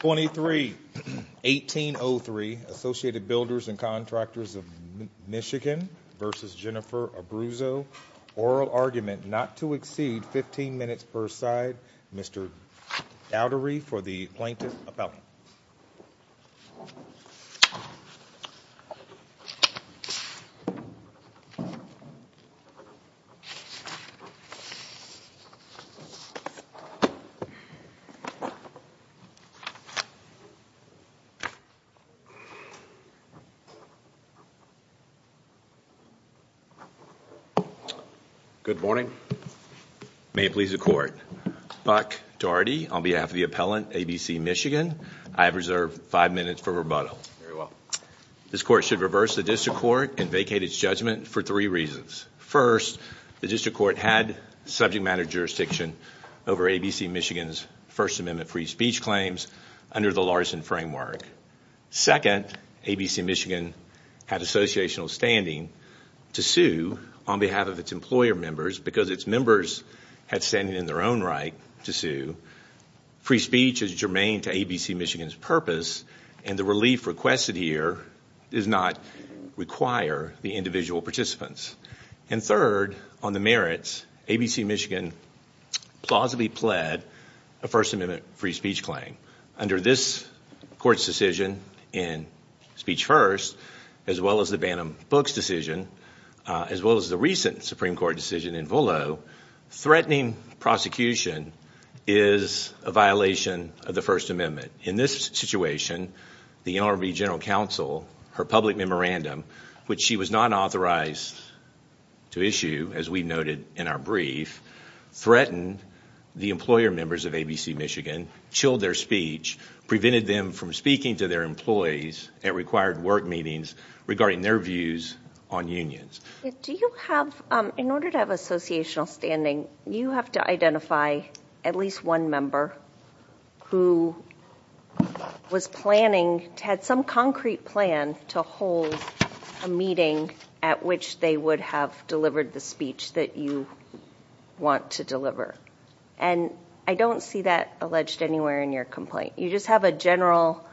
23 1803 Associated Builders and Contractors of Michigan v. Jennifer Abruzzo. Oral argument not to exceed 15 minutes per side. Mr. Dowdery for the plaintiff appellant. Good morning. May it please the court. Buck Dougherty on behalf of the appellant ABC Michigan. I have reserved five minutes for rebuttal. Very well. This court should reverse the district court and vacate its judgment for three reasons. First, the district court had subject matter jurisdiction over ABC Michigan's First Amendment free speech claims under the Larson framework. Second, ABC Michigan had associational standing to sue on behalf of its employer members because its members had standing in their own right to sue. Free speech is germane to ABC Michigan's purpose and the relief requested here does not require the individual participants. And third, on the merits, ABC Michigan plausibly pled a First Amendment free speech claim. Under this court's decision in Speech First, as well as the Bantam Books decision, as well as the recent Supreme Court decision in Volo, threatening prosecution is a violation of the First Amendment. In this situation, the NLRB General Counsel, her public memorandum, which she was not authorized to issue, as we noted in our brief, threatened the employer members of ABC Michigan, chilled their speech, prevented them from speaking to their employees at required work meetings regarding their views on unions. Do you have, in order to have associational standing, you have to identify at least one member who was planning, had some concrete plan to hold a meeting at which they would have delivered the speech that you want to deliver? And I don't see that alleged anywhere in your complaint. You just have a general,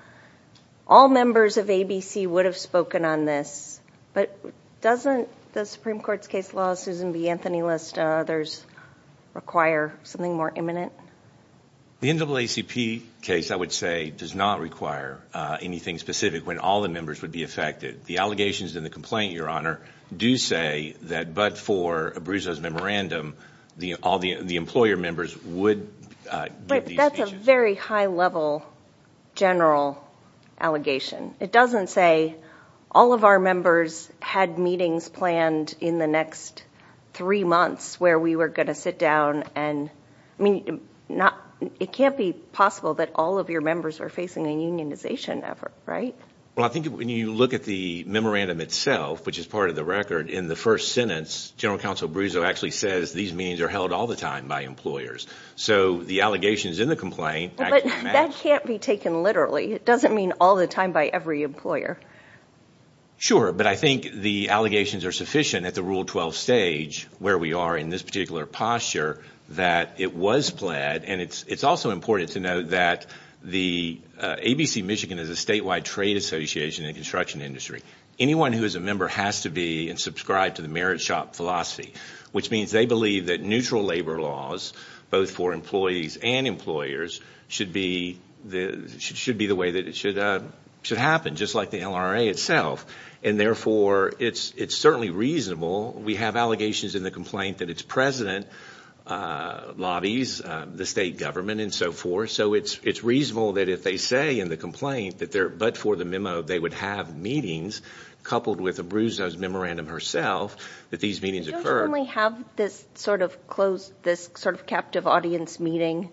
all members of ABC would have spoken on this, but doesn't the Supreme Court's case law, Susan B. Anthony, lest others require something more imminent? The NAACP case, I would say, does not require anything specific when all the members would be affected. The allegations in the complaint, Your Honor, do say that but for Abruzzo's memorandum, all the employer members would give these speeches. But that's a very high-level general allegation. It doesn't say all of our members had meetings planned in the next three months where we were going to sit down and, I mean, it can't be possible that all of your members are facing a unionization effort, right? Well, I think when you look at the memorandum itself, which is part of the record, in the first sentence, General Counsel Abruzzo actually says these meetings are held all the time by employers. So the allegations in the complaint, that can't be taken literally. It doesn't mean all the time by every employer. Sure, but I think the allegations are sufficient at the Rule 12 stage, where we are in this particular posture, that it was planned. And it's also important to note that the ABC Michigan is a statewide trade association in the construction industry. Anyone who is a member has to be and subscribe to the merit shop philosophy, which means they believe that neutral labor laws, both for employees and employers, should be the way that it should happen, just like the LRA itself. And therefore, it's certainly reasonable. We have allegations in the complaint that its president lobbies the state government and so forth. So it's reasonable that if they say in the complaint that they're but for the memo they would have meetings, coupled with Abruzzo's memorandum herself, that these meetings occur. Do you only have this sort of closed, this sort of captive audience meeting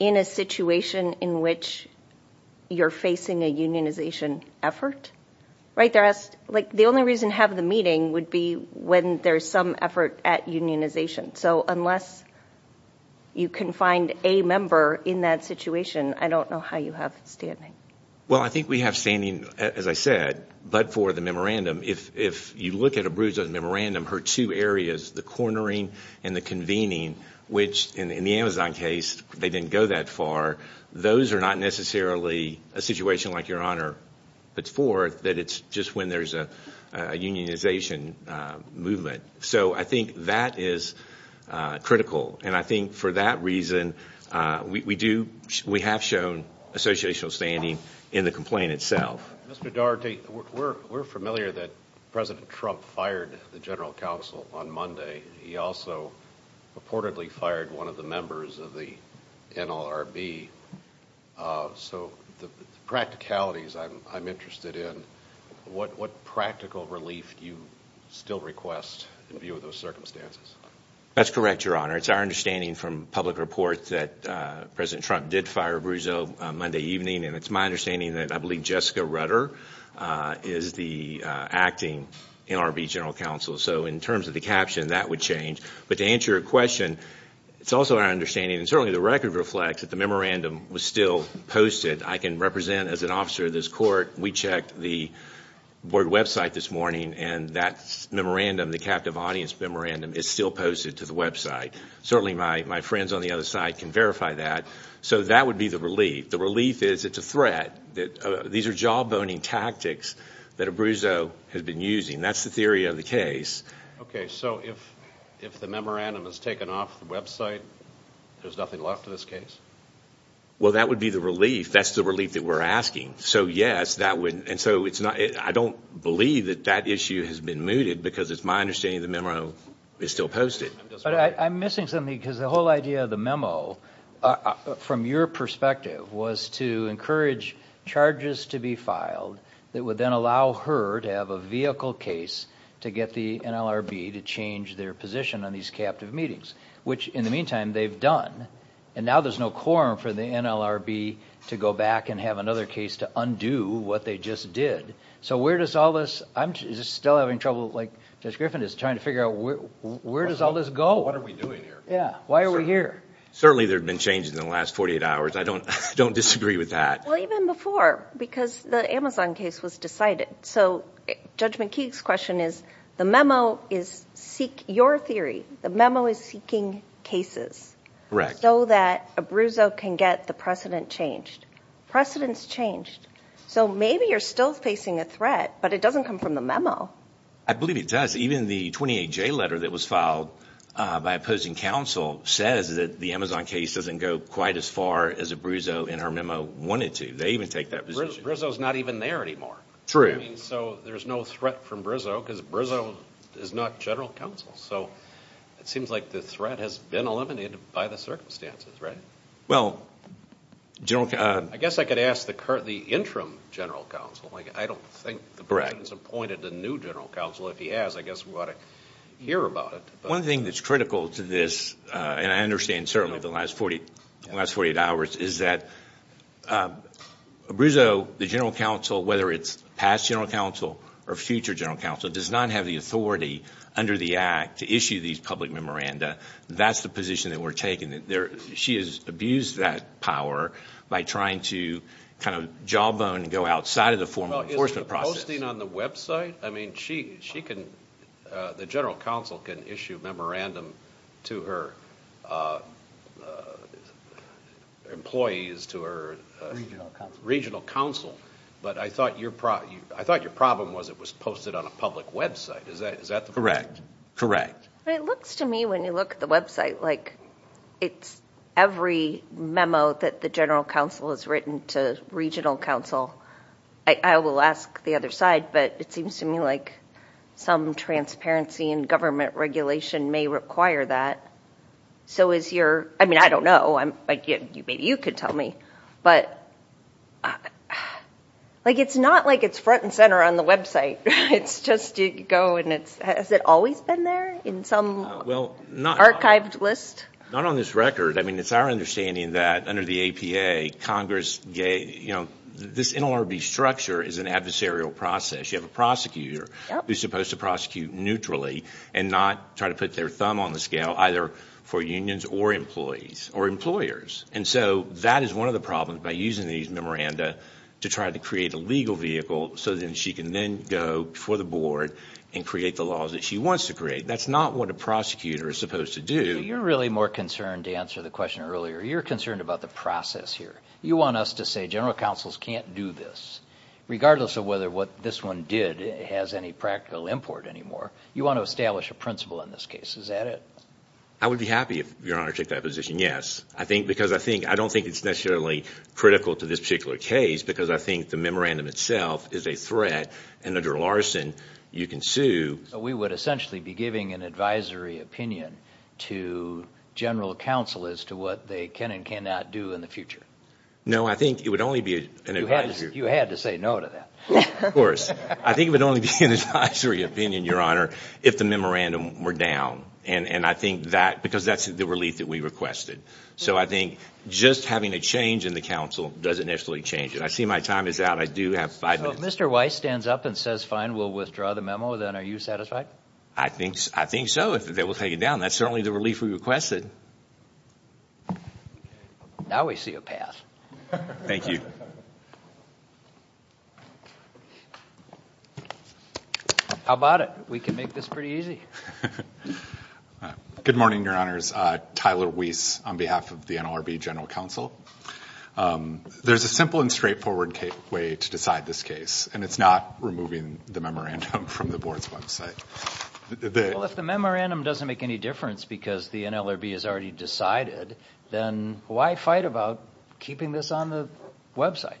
in a situation in which you're facing a unionization effort, right? Like the only reason to have the meeting would be when there's some effort at unionization. So unless you can find a member in that situation, I don't know how you have standing. Well, I think we have standing, as I said, but for the memorandum. If you look at Abruzzo's memorandum, her two areas, the cornering and the convening, which in the Amazon case, they didn't go that far. Those are not necessarily a situation like Your Honor puts forth, that it's just when there's a unionization movement. So I think that is critical and I think for that reason we do, we have shown associational standing in the complaint itself. Mr. Daugherty, we're familiar that President Trump fired the General Counsel on Monday. He also purportedly fired one of the members of the NLRB. So the practicalities I'm interested in, what practical relief do you still request in view of those circumstances? That's correct, Your Honor. It's our understanding from public reports that President Trump did fire Abruzzo Monday evening and it's my understanding that I believe Jessica Rutter is the acting NLRB General Counsel. So in terms of the caption, that would change. But to answer your question, it's also our understanding and certainly the record reflects that the memorandum was still posted. I can represent as an officer of this court, we checked the board website this morning and that memorandum, the captive audience memorandum, is still posted to the website. Certainly my friends on the other side can verify that. So that would be the relief. The relief is it's a threat, that these are jaw-boning tactics that Abruzzo has been using. That's the theory of the case. Okay, so if the memorandum is taken off the website, there's nothing left to this case? Well, that would be the relief. That's the relief that we're asking. So yes, that would, and so it's not, I don't believe that that issue has been mooted because it's my understanding the memorandum is still posted. But I'm missing something because the whole idea of the memo, from your perspective, was to encourage charges to be filed that would then allow her to have a vehicle case to get the NLRB to change their position on these captive meetings, which in the meantime they've done. And now there's no quorum for the NLRB to go back and have another case to undo what they just did. So where does all this, I'm still having trouble, like Judge Griffin is trying to figure out where does all this go? What are we doing here? Yeah, why are we here? Certainly there have been changes in the last 48 hours. I don't disagree with that. Well, even before, because the Amazon case was decided. So Judge McKee's question is, the memo is seek, your theory, the memo is seeking cases. Correct. So that Abruzzo can get the precedent changed. Precedents changed. So maybe you're still facing a threat, but it doesn't come from the memo. I believe it does. Even the 28J letter that was filed by opposing counsel says that the Amazon case doesn't go quite as far as Abruzzo in our memo wanted to. They even take that position. Abruzzo's not even there anymore. True. So there's no threat from Abruzzo, because Abruzzo is not general counsel. So it seems like the threat has been eliminated by the circumstances, right? Well, general counsel... I guess I could ask the current, the interim general counsel. Like, I don't think the president's appointed a new general counsel. If he has, I guess we ought to hear about it. One thing that's critical to this, and I understand certainly the last 48 hours, is that Abruzzo, the general counsel, whether it's past general counsel or future general counsel, does not have the authority under the Act to issue these public memoranda. That's the position that we're taking. She has abused that power by trying to kind of jawbone and go outside of the formal enforcement process. Well, isn't the posting on the website? I mean, the general counsel can issue memorandum to her employees, to her regional counsel, but I thought your problem was it was posted on a public website. Is that correct? It looks to me, when you look at the website, like it's every memo that the general counsel has written to regional counsel. I will ask the other side, but it seems to me like some transparency and government regulation may require that. So is your... I mean, I don't know. Maybe you could tell me, but like it's not like it's front and center on the website. It's just you go and it's... Has it always been there in some archived list? Not on this record. I mean, it's our understanding that under the APA, Congress, you know, this NLRB structure is an adversarial process. You have a prosecutor who's supposed to prosecute neutrally and not try to put their thumb on the scale, either for unions or employees or employers, and so that is one of the problems by using these memoranda to try to create a legal vehicle so that she can then go before the board and create the laws that she wants to create. That's not what a prosecutor is supposed to do. You're really more concerned, to answer the question earlier, you're concerned about the process here. You want us to say general counsels can't do this, regardless of whether what this one did has any practical import anymore. You want to establish a principle in this case. Is that it? I would be happy if Your Honor took that position, yes. I think because I think I don't think it's necessarily critical to this particular case, because I think the memorandum itself is a threat, and under Larson, you can sue. We would essentially be giving an advisory opinion to general counsel as to what they can and cannot do in the future. No, I think it would only be an advisory opinion. You had to say no to that. Of course. I think it would only be an advisory opinion, Your Honor, if the memorandum were down, and I think that, because that's the relief that we requested. So I think just having a change in the counsel doesn't necessarily change it. I see my time is out. I do have five minutes. So if Mr. Weiss stands up and says, fine, we'll withdraw the memo, then are you satisfied? I think so, if it will take it down. That's certainly the relief we requested. Now we see a path. Thank you. How about it? We can make this pretty easy. Good morning, Your Honors. Tyler Weiss on behalf of the NLRB General Counsel. There's a simple and straightforward way to decide this case, and it's not removing the memorandum from the Board's website. Well, if the memorandum doesn't make any difference because the NLRB has already decided, then why fight about keeping this on the website?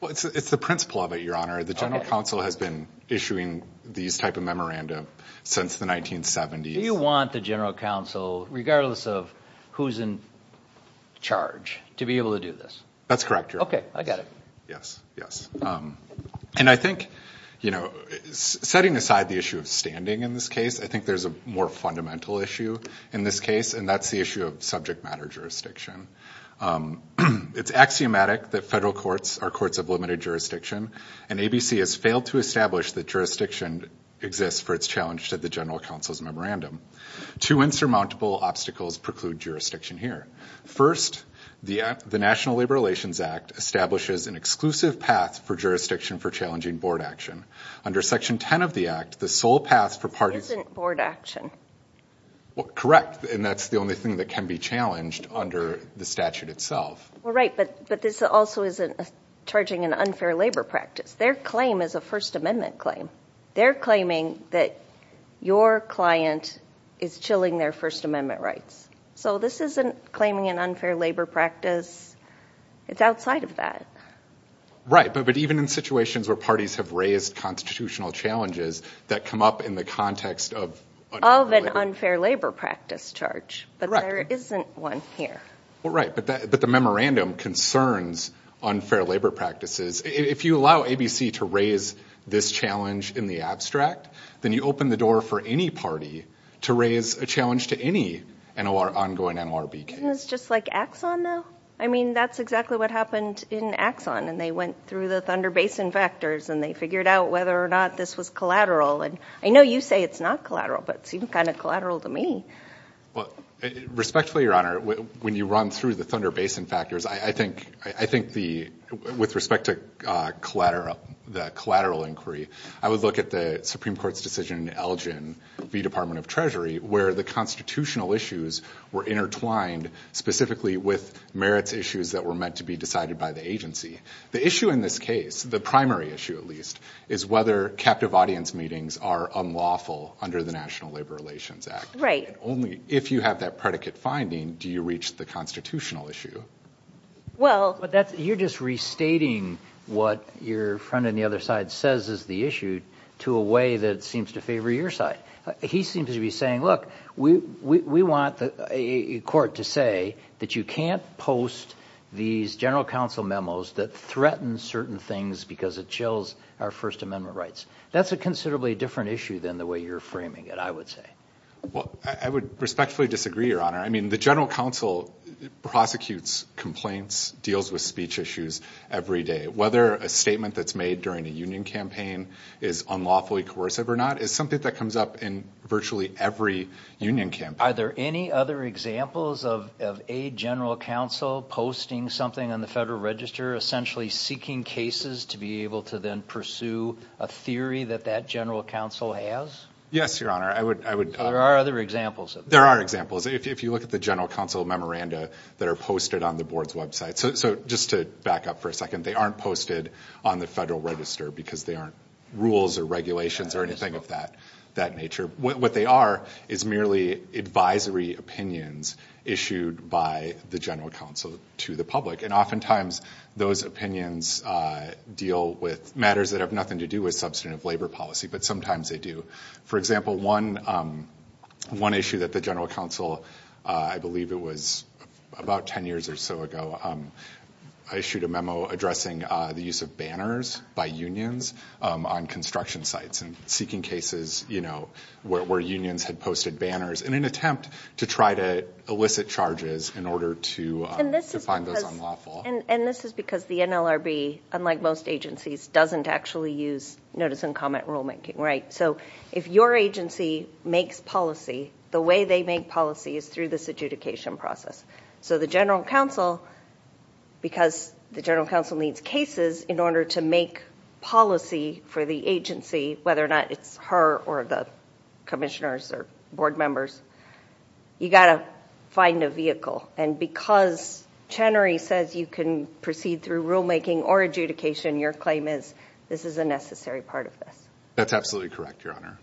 Well, it's the principle of it, Your Honor. The General Counsel has been issuing these type of memorandum since the 1970s. Do you want the General Counsel, regardless of who's in charge, to be able to do this? That's correct, Your Honors. Okay, I got it. Yes, yes. And I think, you know, setting aside the issue of standing in this case, I think there's a more fundamental issue in this case, and that's the issue of subject matter jurisdiction. It's axiomatic that federal courts are courts of limited jurisdiction, and ABC has failed to establish that jurisdiction exists for its challenge to the General Counsel's memorandum. Two insurmountable obstacles preclude jurisdiction here. First, the National Labor Relations Act establishes an exclusive path for jurisdiction for challenging board action. Under Section 10 of the Act, the sole path for parties... Isn't board action. Correct, and that's the only thing that can be challenged under the statute itself. Right, but this also isn't charging an unfair labor practice. Their claim is a First Amendment claim. They're claiming that your client is chilling their First Amendment rights. So this isn't claiming an unfair labor practice. It's outside of that. Right, but even in situations where parties have raised constitutional challenges that come up in the context of... Of an unfair labor practice charge, but there isn't one here. Right, but the memorandum concerns unfair labor practices. If you allow ABC to raise this challenge in the abstract, then you open the door for any party to raise a challenge to any ongoing NLRB case. Isn't this just like Axon, though? I mean, that's exactly what happened in Axon, and they went through the Thunder Basin vectors, and they figured out whether or not this was collateral. And I know you say it's not collateral, but it seemed kind of collateral to me. Well, respectfully, Your Honor, when you run through the Thunder Basin factors, I think with respect to the collateral inquiry, I would look at the Supreme Court's decision in Elgin v. Department of Treasury where the constitutional issues were intertwined specifically with merits issues that were meant to be decided by the agency. The issue in this case, the primary issue at least, is whether captive audience meetings are unlawful under the National Labor Relations Act. Right. And only if you have that predicate finding do you reach the constitutional issue. Well... You're just restating what your friend on the other side says is the issue to a way that seems to favor your side. He seems to be saying, look, we want the court to say that you can't post these general counsel memos that threaten certain things because it chills our First Amendment rights. That's a considerably different issue than the way you're framing it, I would say. Well, I would respectfully disagree, Your Honor. I mean, the general counsel prosecutes complaints, deals with speech issues every day. Whether a statement that's made during a union campaign is unlawfully coercive or not is something that comes up in virtually every union campaign. Are there any other examples of a general counsel posting something on the Federal Register, essentially seeking cases to be able to then pursue a theory that that general counsel has? Yes, Your Honor. There are other examples. There are examples. If you look at the general counsel memoranda that are posted on the board's website. So just to back up for a second, they aren't posted on the Federal Register because there aren't rules or regulations or anything of that nature. What they are is merely advisory opinions issued by the general counsel to the public, and oftentimes those opinions deal with matters that have nothing to do with substantive labor policy, but sometimes they do. For example, one issue that the general counsel, I believe it was about ten years or so ago, issued a memo addressing the use of banners by unions on construction sites and seeking cases where unions had posted banners in an attempt to try to elicit charges in order to find those unlawful. And this is because the NLRB, unlike most agencies, doesn't actually use notice and comment rulemaking. So if your agency makes policy, the way they make policy is through this adjudication process. So the general counsel, because the general counsel needs cases in order to make policy for the agency, whether or not it's her or the commissioners or board members, you've got to find a vehicle. And because Chenery says you can proceed through rulemaking or adjudication, your claim is this is a necessary part of this. That's absolutely correct, Your Honor.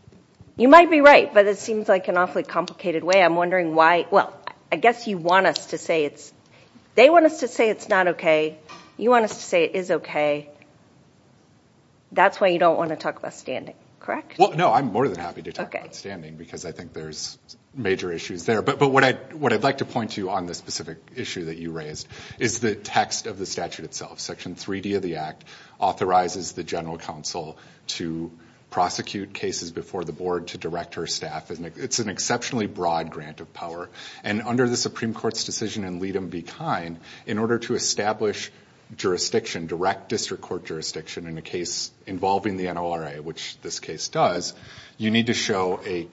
You might be right, but it seems like an awfully complicated way. I'm wondering why – well, I guess you want us to say it's – they want us to say it's not okay. You want us to say it is okay. That's why you don't want to talk about standing, correct? Well, no, I'm more than happy to talk about standing because I think there's major issues there. But what I'd like to point to on this specific issue that you raised is the text of the statute itself. Section 3D of the Act authorizes the general counsel to prosecute cases before the board, to director, staff. It's an exceptionally broad grant of power. And under the Supreme Court's decision in Leadham v. Kine, in order to establish jurisdiction, direct district court jurisdiction in a case involving the NORA, which this case does, you need to show a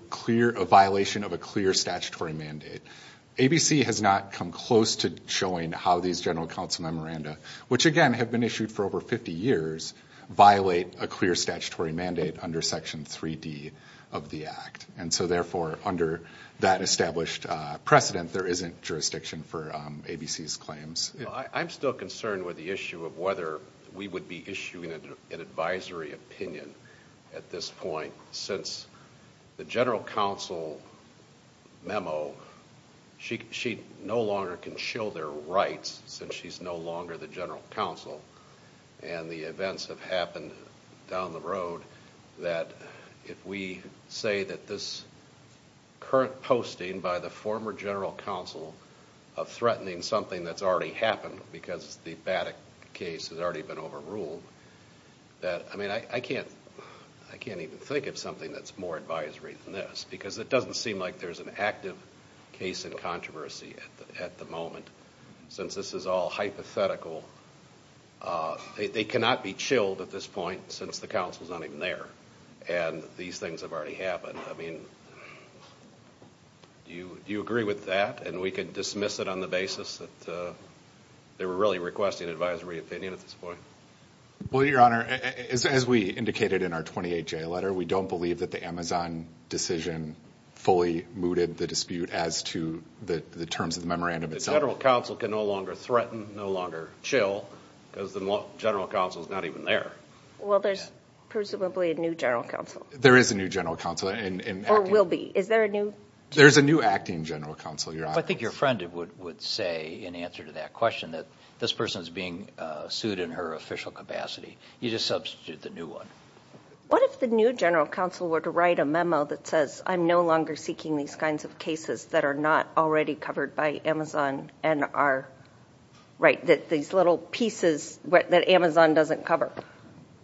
violation of a clear statutory mandate. ABC has not come close to showing how these general counsel memoranda, which, again, have been issued for over 50 years, violate a clear statutory mandate under Section 3D of the Act. And so, therefore, under that established precedent, there isn't jurisdiction for ABC's claims. Well, I'm still concerned with the issue of whether we would be issuing an advisory opinion at this point since the general counsel memo, she no longer can show their rights since she's no longer the general counsel. And the events have happened down the road that if we say that this current posting by the former general counsel of threatening something that's already happened because the BATIC case has already been overruled, that, I mean, I can't even think of something that's more advisory than this because it doesn't seem like there's an active case in controversy at the moment since this is all hypothetical. They cannot be chilled at this point since the counsel's not even there and these things have already happened. I mean, do you agree with that? And we can dismiss it on the basis that they were really requesting advisory opinion at this point. Well, Your Honor, as we indicated in our 28-J letter, we don't believe that the Amazon decision fully mooted the dispute as to the terms of the memorandum itself. The general counsel can no longer threaten, no longer chill because the general counsel's not even there. Well, there's presumably a new general counsel. There is a new general counsel. Or will be. Is there a new? There's a new acting general counsel, Your Honor. I think your friend would say in answer to that question that this person's being sued in her official capacity. You just substitute the new one. What if the new general counsel were to write a memo that says, I'm no longer seeking these kinds of cases that are not already covered by Amazon and are, right, that these little pieces that Amazon doesn't cover.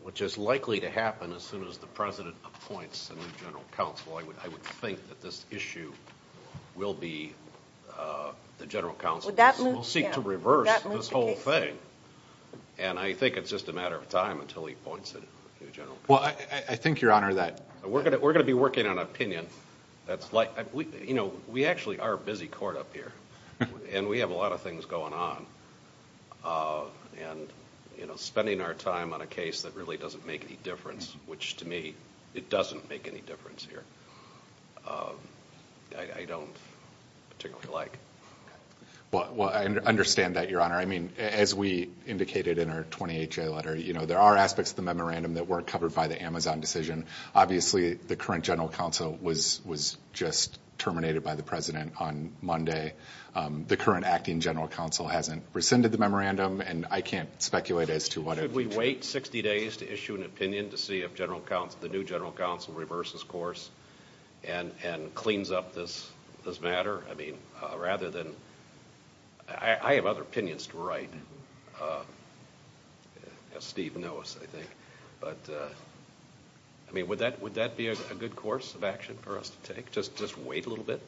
Which is likely to happen as soon as the president appoints a new general counsel. I would think that this issue will be the general counsel will seek to reverse this whole thing. And I think it's just a matter of time until he appoints a new general counsel. Well, I think, Your Honor, that we're going to be working on opinion. That's like, you know, we actually are a busy court up here. And we have a lot of things going on. And, you know, spending our time on a case that really doesn't make any difference, which to me, it doesn't make any difference here. I don't particularly like. Well, I understand that, Your Honor. I mean, as we indicated in our 28-J letter, you know, there are aspects of the memorandum that weren't covered by the Amazon decision. Obviously, the current general counsel was just terminated by the president on Monday. The current acting general counsel hasn't rescinded the memorandum. And I can't speculate as to what. Should we wait 60 days to issue an opinion to see if the new general counsel reverses course and cleans up this matter? I mean, rather than. I have other opinions to write, as Steve knows, I think. But, I mean, would that be a good course of action for us to take, just wait a little bit?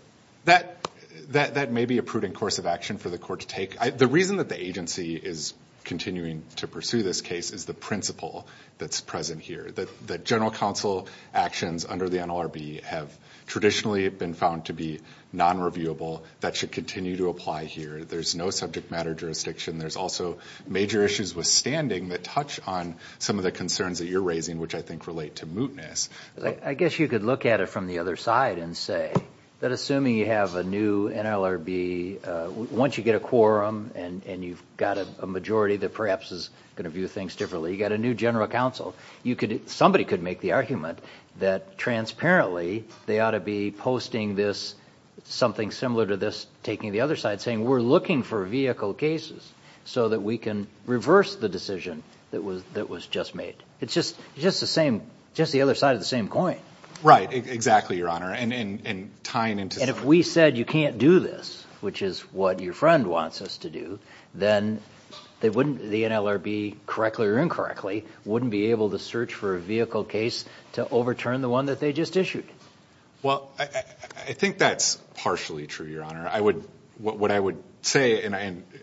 That may be a prudent course of action for the court to take. The reason that the agency is continuing to pursue this case is the principle that's present here, that general counsel actions under the NLRB have traditionally been found to be non-reviewable. That should continue to apply here. There's no subject matter jurisdiction. There's also major issues with standing that touch on some of the concerns that you're raising, which I think relate to mootness. I guess you could look at it from the other side and say that assuming you have a new NLRB, once you get a quorum and you've got a majority that perhaps is going to view things differently, you've got a new general counsel, somebody could make the argument that transparently they ought to be posting this, something similar to this taking the other side, saying we're looking for vehicle cases so that we can reverse the decision that was just made. It's just the other side of the same coin. Right, exactly, Your Honor. And if we said you can't do this, which is what your friend wants us to do, then the NLRB, correctly or incorrectly, wouldn't be able to search for a vehicle case to overturn the one that they just issued. Well, I think that's partially true, Your Honor. What I would say, and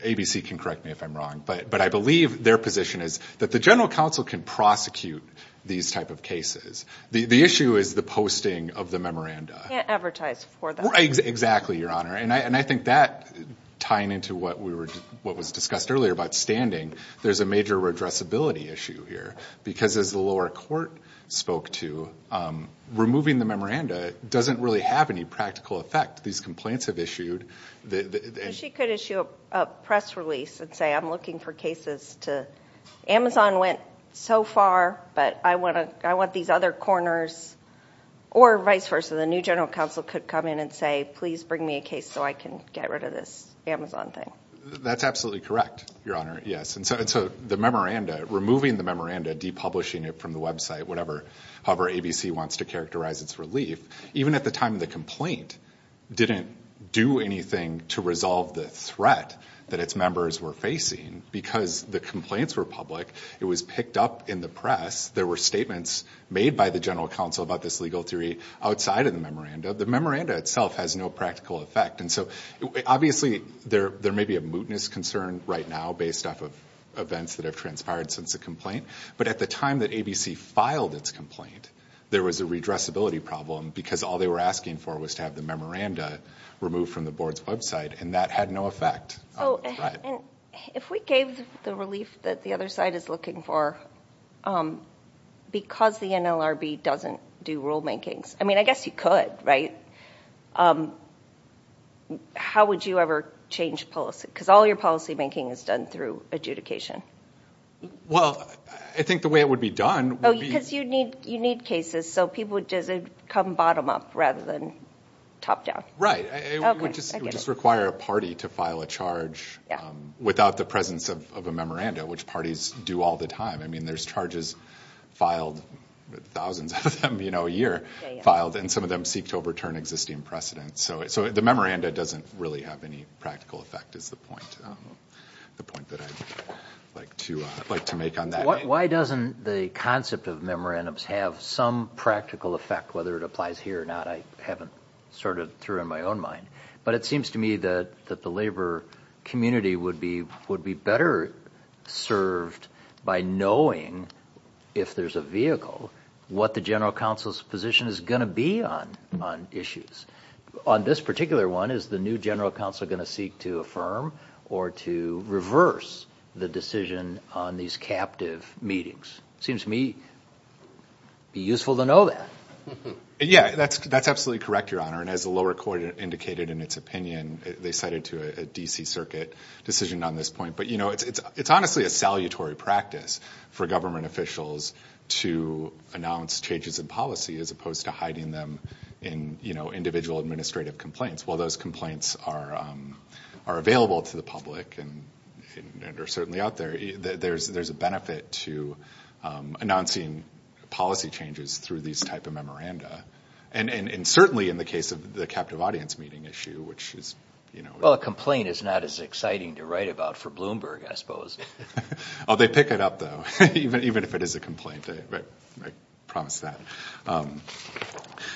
ABC can correct me if I'm wrong, but I believe their position is that the general counsel can prosecute these type of cases. The issue is the posting of the memoranda. You can't advertise for them. Exactly, Your Honor. And I think that, tying into what was discussed earlier about standing, there's a major redressability issue here because, as the lower court spoke to, removing the memoranda doesn't really have any practical effect. These complaints have issued. She could issue a press release and say, I'm looking for cases to, Amazon went so far, but I want these other corners, or vice versa, the new general counsel could come in and say, please bring me a case so I can get rid of this Amazon thing. That's absolutely correct, Your Honor, yes. And so the memoranda, removing the memoranda, depublishing it from the website, however ABC wants to characterize its relief, even at the time of the complaint, didn't do anything to resolve the threat that its members were facing because the complaints were public. It was picked up in the press. There were statements made by the general counsel about this legal theory outside of the memoranda. The memoranda itself has no practical effect, and so obviously there may be a mootness concern right now based off of events that have transpired since the complaint, but at the time that ABC filed its complaint, there was a redressability problem because all they were asking for was to have the memoranda removed from the board's website, and that had no effect on the threat. If we gave the relief that the other side is looking for, because the NLRB doesn't do rule makings, I mean, I guess you could, right? How would you ever change policy? Because all your policymaking is done through adjudication. Well, I think the way it would be done would be – Because you need cases, so people would come bottom up rather than top down. Right. It would just require a party to file a charge without the presence of a memoranda, which parties do all the time. I mean, there's charges filed, thousands of them a year filed, and some of them seek to overturn existing precedents. So the memoranda doesn't really have any practical effect is the point that I'd like to make on that. Why doesn't the concept of memorandums have some practical effect, whether it applies here or not, I haven't sorted through in my own mind. But it seems to me that the labor community would be better served by knowing, if there's a vehicle, what the General Counsel's position is going to be on issues. On this particular one, is the new General Counsel going to seek to affirm or to reverse the decision on these captive meetings? It seems to me it would be useful to know that. Yeah, that's absolutely correct, Your Honor. And as the lower court indicated in its opinion, they cited to a D.C. Circuit decision on this point. But, you know, it's honestly a salutary practice for government officials to announce changes in policy as opposed to hiding them in, you know, individual administrative complaints. While those complaints are available to the public and are certainly out there, there's a benefit to announcing policy changes through these type of memoranda. And certainly in the case of the captive audience meeting issue, which is, you know. Well, a complaint is not as exciting to write about for Bloomberg, I suppose. Oh, they pick it up, though, even if it is a complaint. I promise that.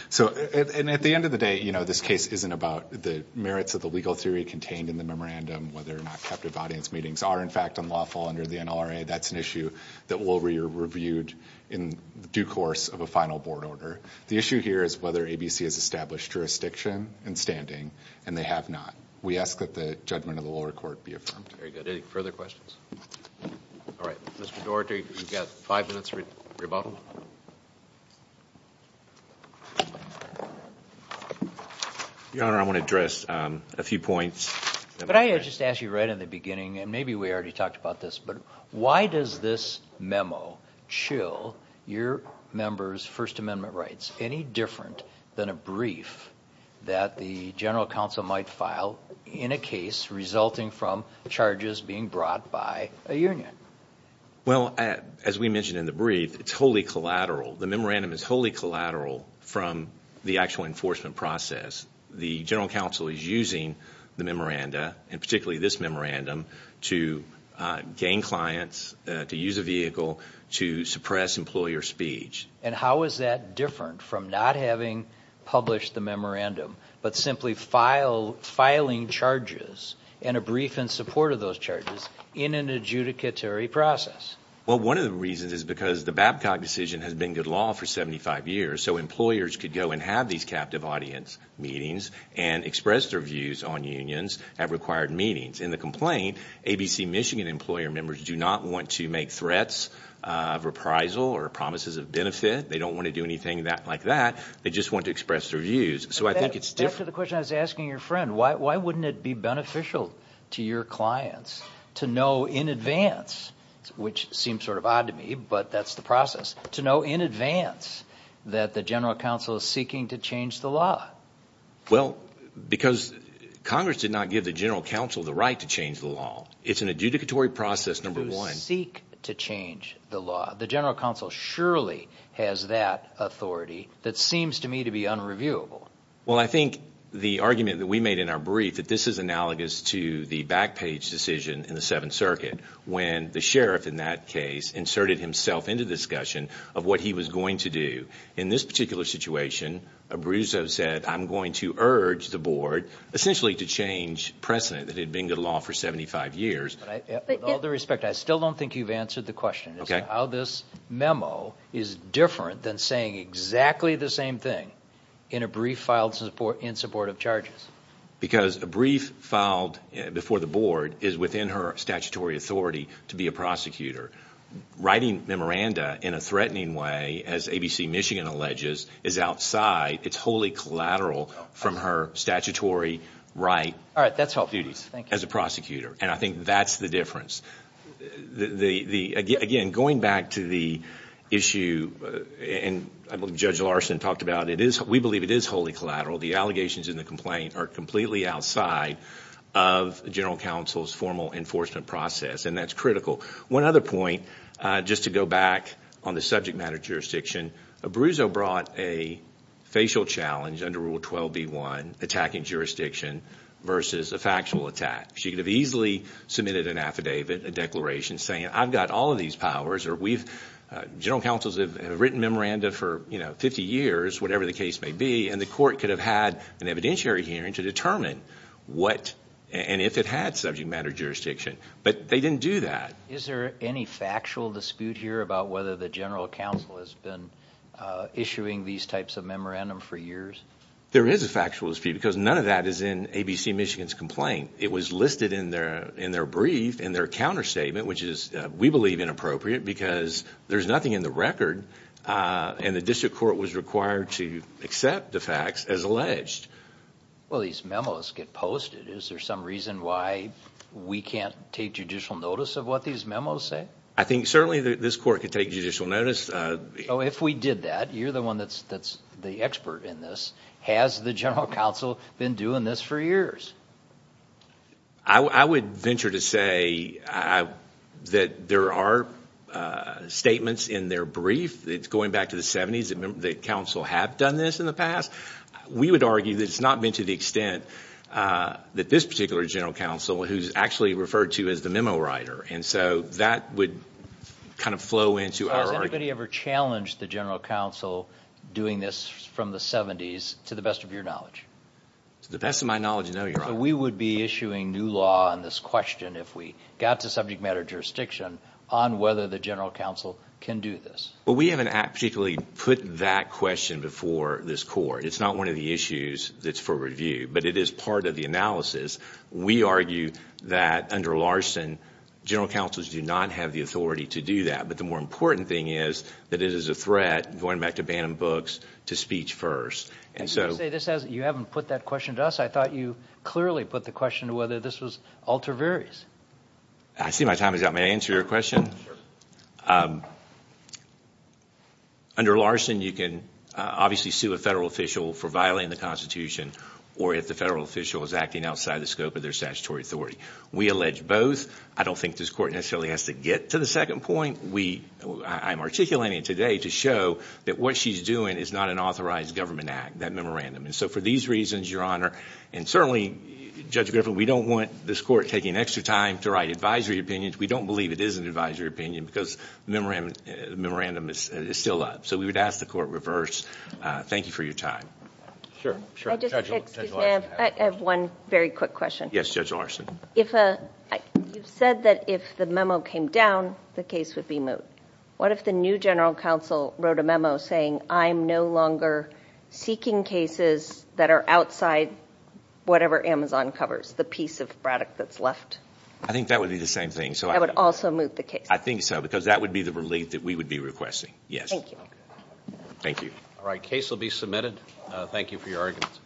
So, and at the end of the day, you know, this case isn't about the merits of the legal theory contained in the memorandum, whether or not captive audience meetings are, in fact, unlawful under the NLRA. That's an issue that will be reviewed in due course of a final board order. The issue here is whether ABC has established jurisdiction and standing, and they have not. We ask that the judgment of the lower court be affirmed. Very good. Any further questions? All right. Mr. Doherty, you've got five minutes to rebuttal. Your Honor, I want to address a few points. Could I just ask you right in the beginning, and maybe we already talked about this, but why does this memo chill your members' First Amendment rights, any different than a brief that the general counsel might file in a case resulting from charges being brought by a union? Well, as we mentioned in the brief, it's wholly collateral. The memorandum is wholly collateral from the actual enforcement process. The general counsel is using the memoranda, and particularly this memorandum, to gain clients, to use a vehicle, to suppress employer speech. And how is that different from not having published the memorandum, but simply filing charges and a brief in support of those charges in an adjudicatory process? Well, one of the reasons is because the Babcock decision has been good law for 75 years, so employers could go and have these captive audience meetings and express their views on unions at required meetings. In the complaint, ABC Michigan employer members do not want to make threats of reprisal or promises of benefit. They don't want to do anything like that. They just want to express their views. So I think it's different. Back to the question I was asking your friend. Why wouldn't it be beneficial to your clients to know in advance, which seems sort of odd to me, but that's the process, to know in advance that the general counsel is seeking to change the law? Well, because Congress did not give the general counsel the right to change the law. It's an adjudicatory process, number one. To seek to change the law. The general counsel surely has that authority that seems to me to be unreviewable. Well, I think the argument that we made in our brief, that this is analogous to the back page decision in the Seventh Circuit when the sheriff in that case inserted himself into discussion of what he was going to do. In this particular situation, Abruzzo said, I'm going to urge the board essentially to change precedent that had been good law for 75 years. With all due respect, I still don't think you've answered the question. It's how this memo is different than saying exactly the same thing in a brief filed in support of charges. Because a brief filed before the board is within her statutory authority to be a prosecutor. Writing memoranda in a threatening way, as ABC Michigan alleges, is outside, it's wholly collateral from her statutory right as a prosecutor. And I think that's the difference. Again, going back to the issue, and Judge Larson talked about it, we believe it is wholly collateral. The allegations in the complaint are completely outside of general counsel's formal enforcement process. And that's critical. One other point, just to go back on the subject matter jurisdiction, Abruzzo brought a facial challenge under Rule 12b1, attacking jurisdiction versus a factual attack. She could have easily submitted an affidavit, a declaration, saying, I've got all of these powers, or we've, general counsels have written memoranda for 50 years, whatever the case may be, and the court could have had an evidentiary hearing to determine what, and if it had subject matter jurisdiction. But they didn't do that. Is there any factual dispute here about whether the general counsel has been issuing these types of memorandum for years? There is a factual dispute, because none of that is in ABC Michigan's complaint. It was listed in their brief, in their counterstatement, which is, we believe, inappropriate, because there's nothing in the record, and the district court was required to accept the facts as alleged. Well, these memos get posted. Is there some reason why we can't take judicial notice of what these memos say? I think certainly this court could take judicial notice. So if we did that, you're the one that's the expert in this. Has the general counsel been doing this for years? I would venture to say that there are statements in their brief, going back to the 70s, that counsel have done this in the past. We would argue that it's not been to the extent that this particular general counsel, who's actually referred to as the memo writer, and so that would kind of flow into our argument. Has anybody ever challenged the general counsel doing this from the 70s, to the best of your knowledge? To the best of my knowledge, no, Your Honor. So we would be issuing new law on this question, if we got to subject matter jurisdiction, on whether the general counsel can do this. Well, we haven't actually put that question before this court. It's not one of the issues that's for review, but it is part of the analysis. We argue that, under Larson, general counsels do not have the authority to do that. But the more important thing is that it is a threat, going back to Bannon books, to speech first. You haven't put that question to us. I thought you clearly put the question to whether this was alter veris. I see my time is up. May I answer your question? Sure. Under Larson, you can obviously sue a federal official for violating the Constitution, or if the federal official is acting outside the scope of their statutory authority. We allege both. I don't think this court necessarily has to get to the second point. I'm articulating it today to show that what she's doing is not an authorized government act, that memorandum. And so for these reasons, Your Honor, and certainly, Judge Griffin, we don't want this court taking extra time to write advisory opinions. We don't believe it is an advisory opinion because the memorandum is still up. So we would ask the court reverse. Thank you for your time. I have one very quick question. Yes, Judge Larson. You've said that if the memo came down, the case would be moved. What if the new general counsel wrote a memo saying, I'm no longer seeking cases that are outside whatever Amazon covers, the piece of Braddock that's left? I think that would be the same thing. That would also move the case? I think so, because that would be the relief that we would be requesting. Yes. Thank you. All right, case will be submitted. Thank you for your arguments.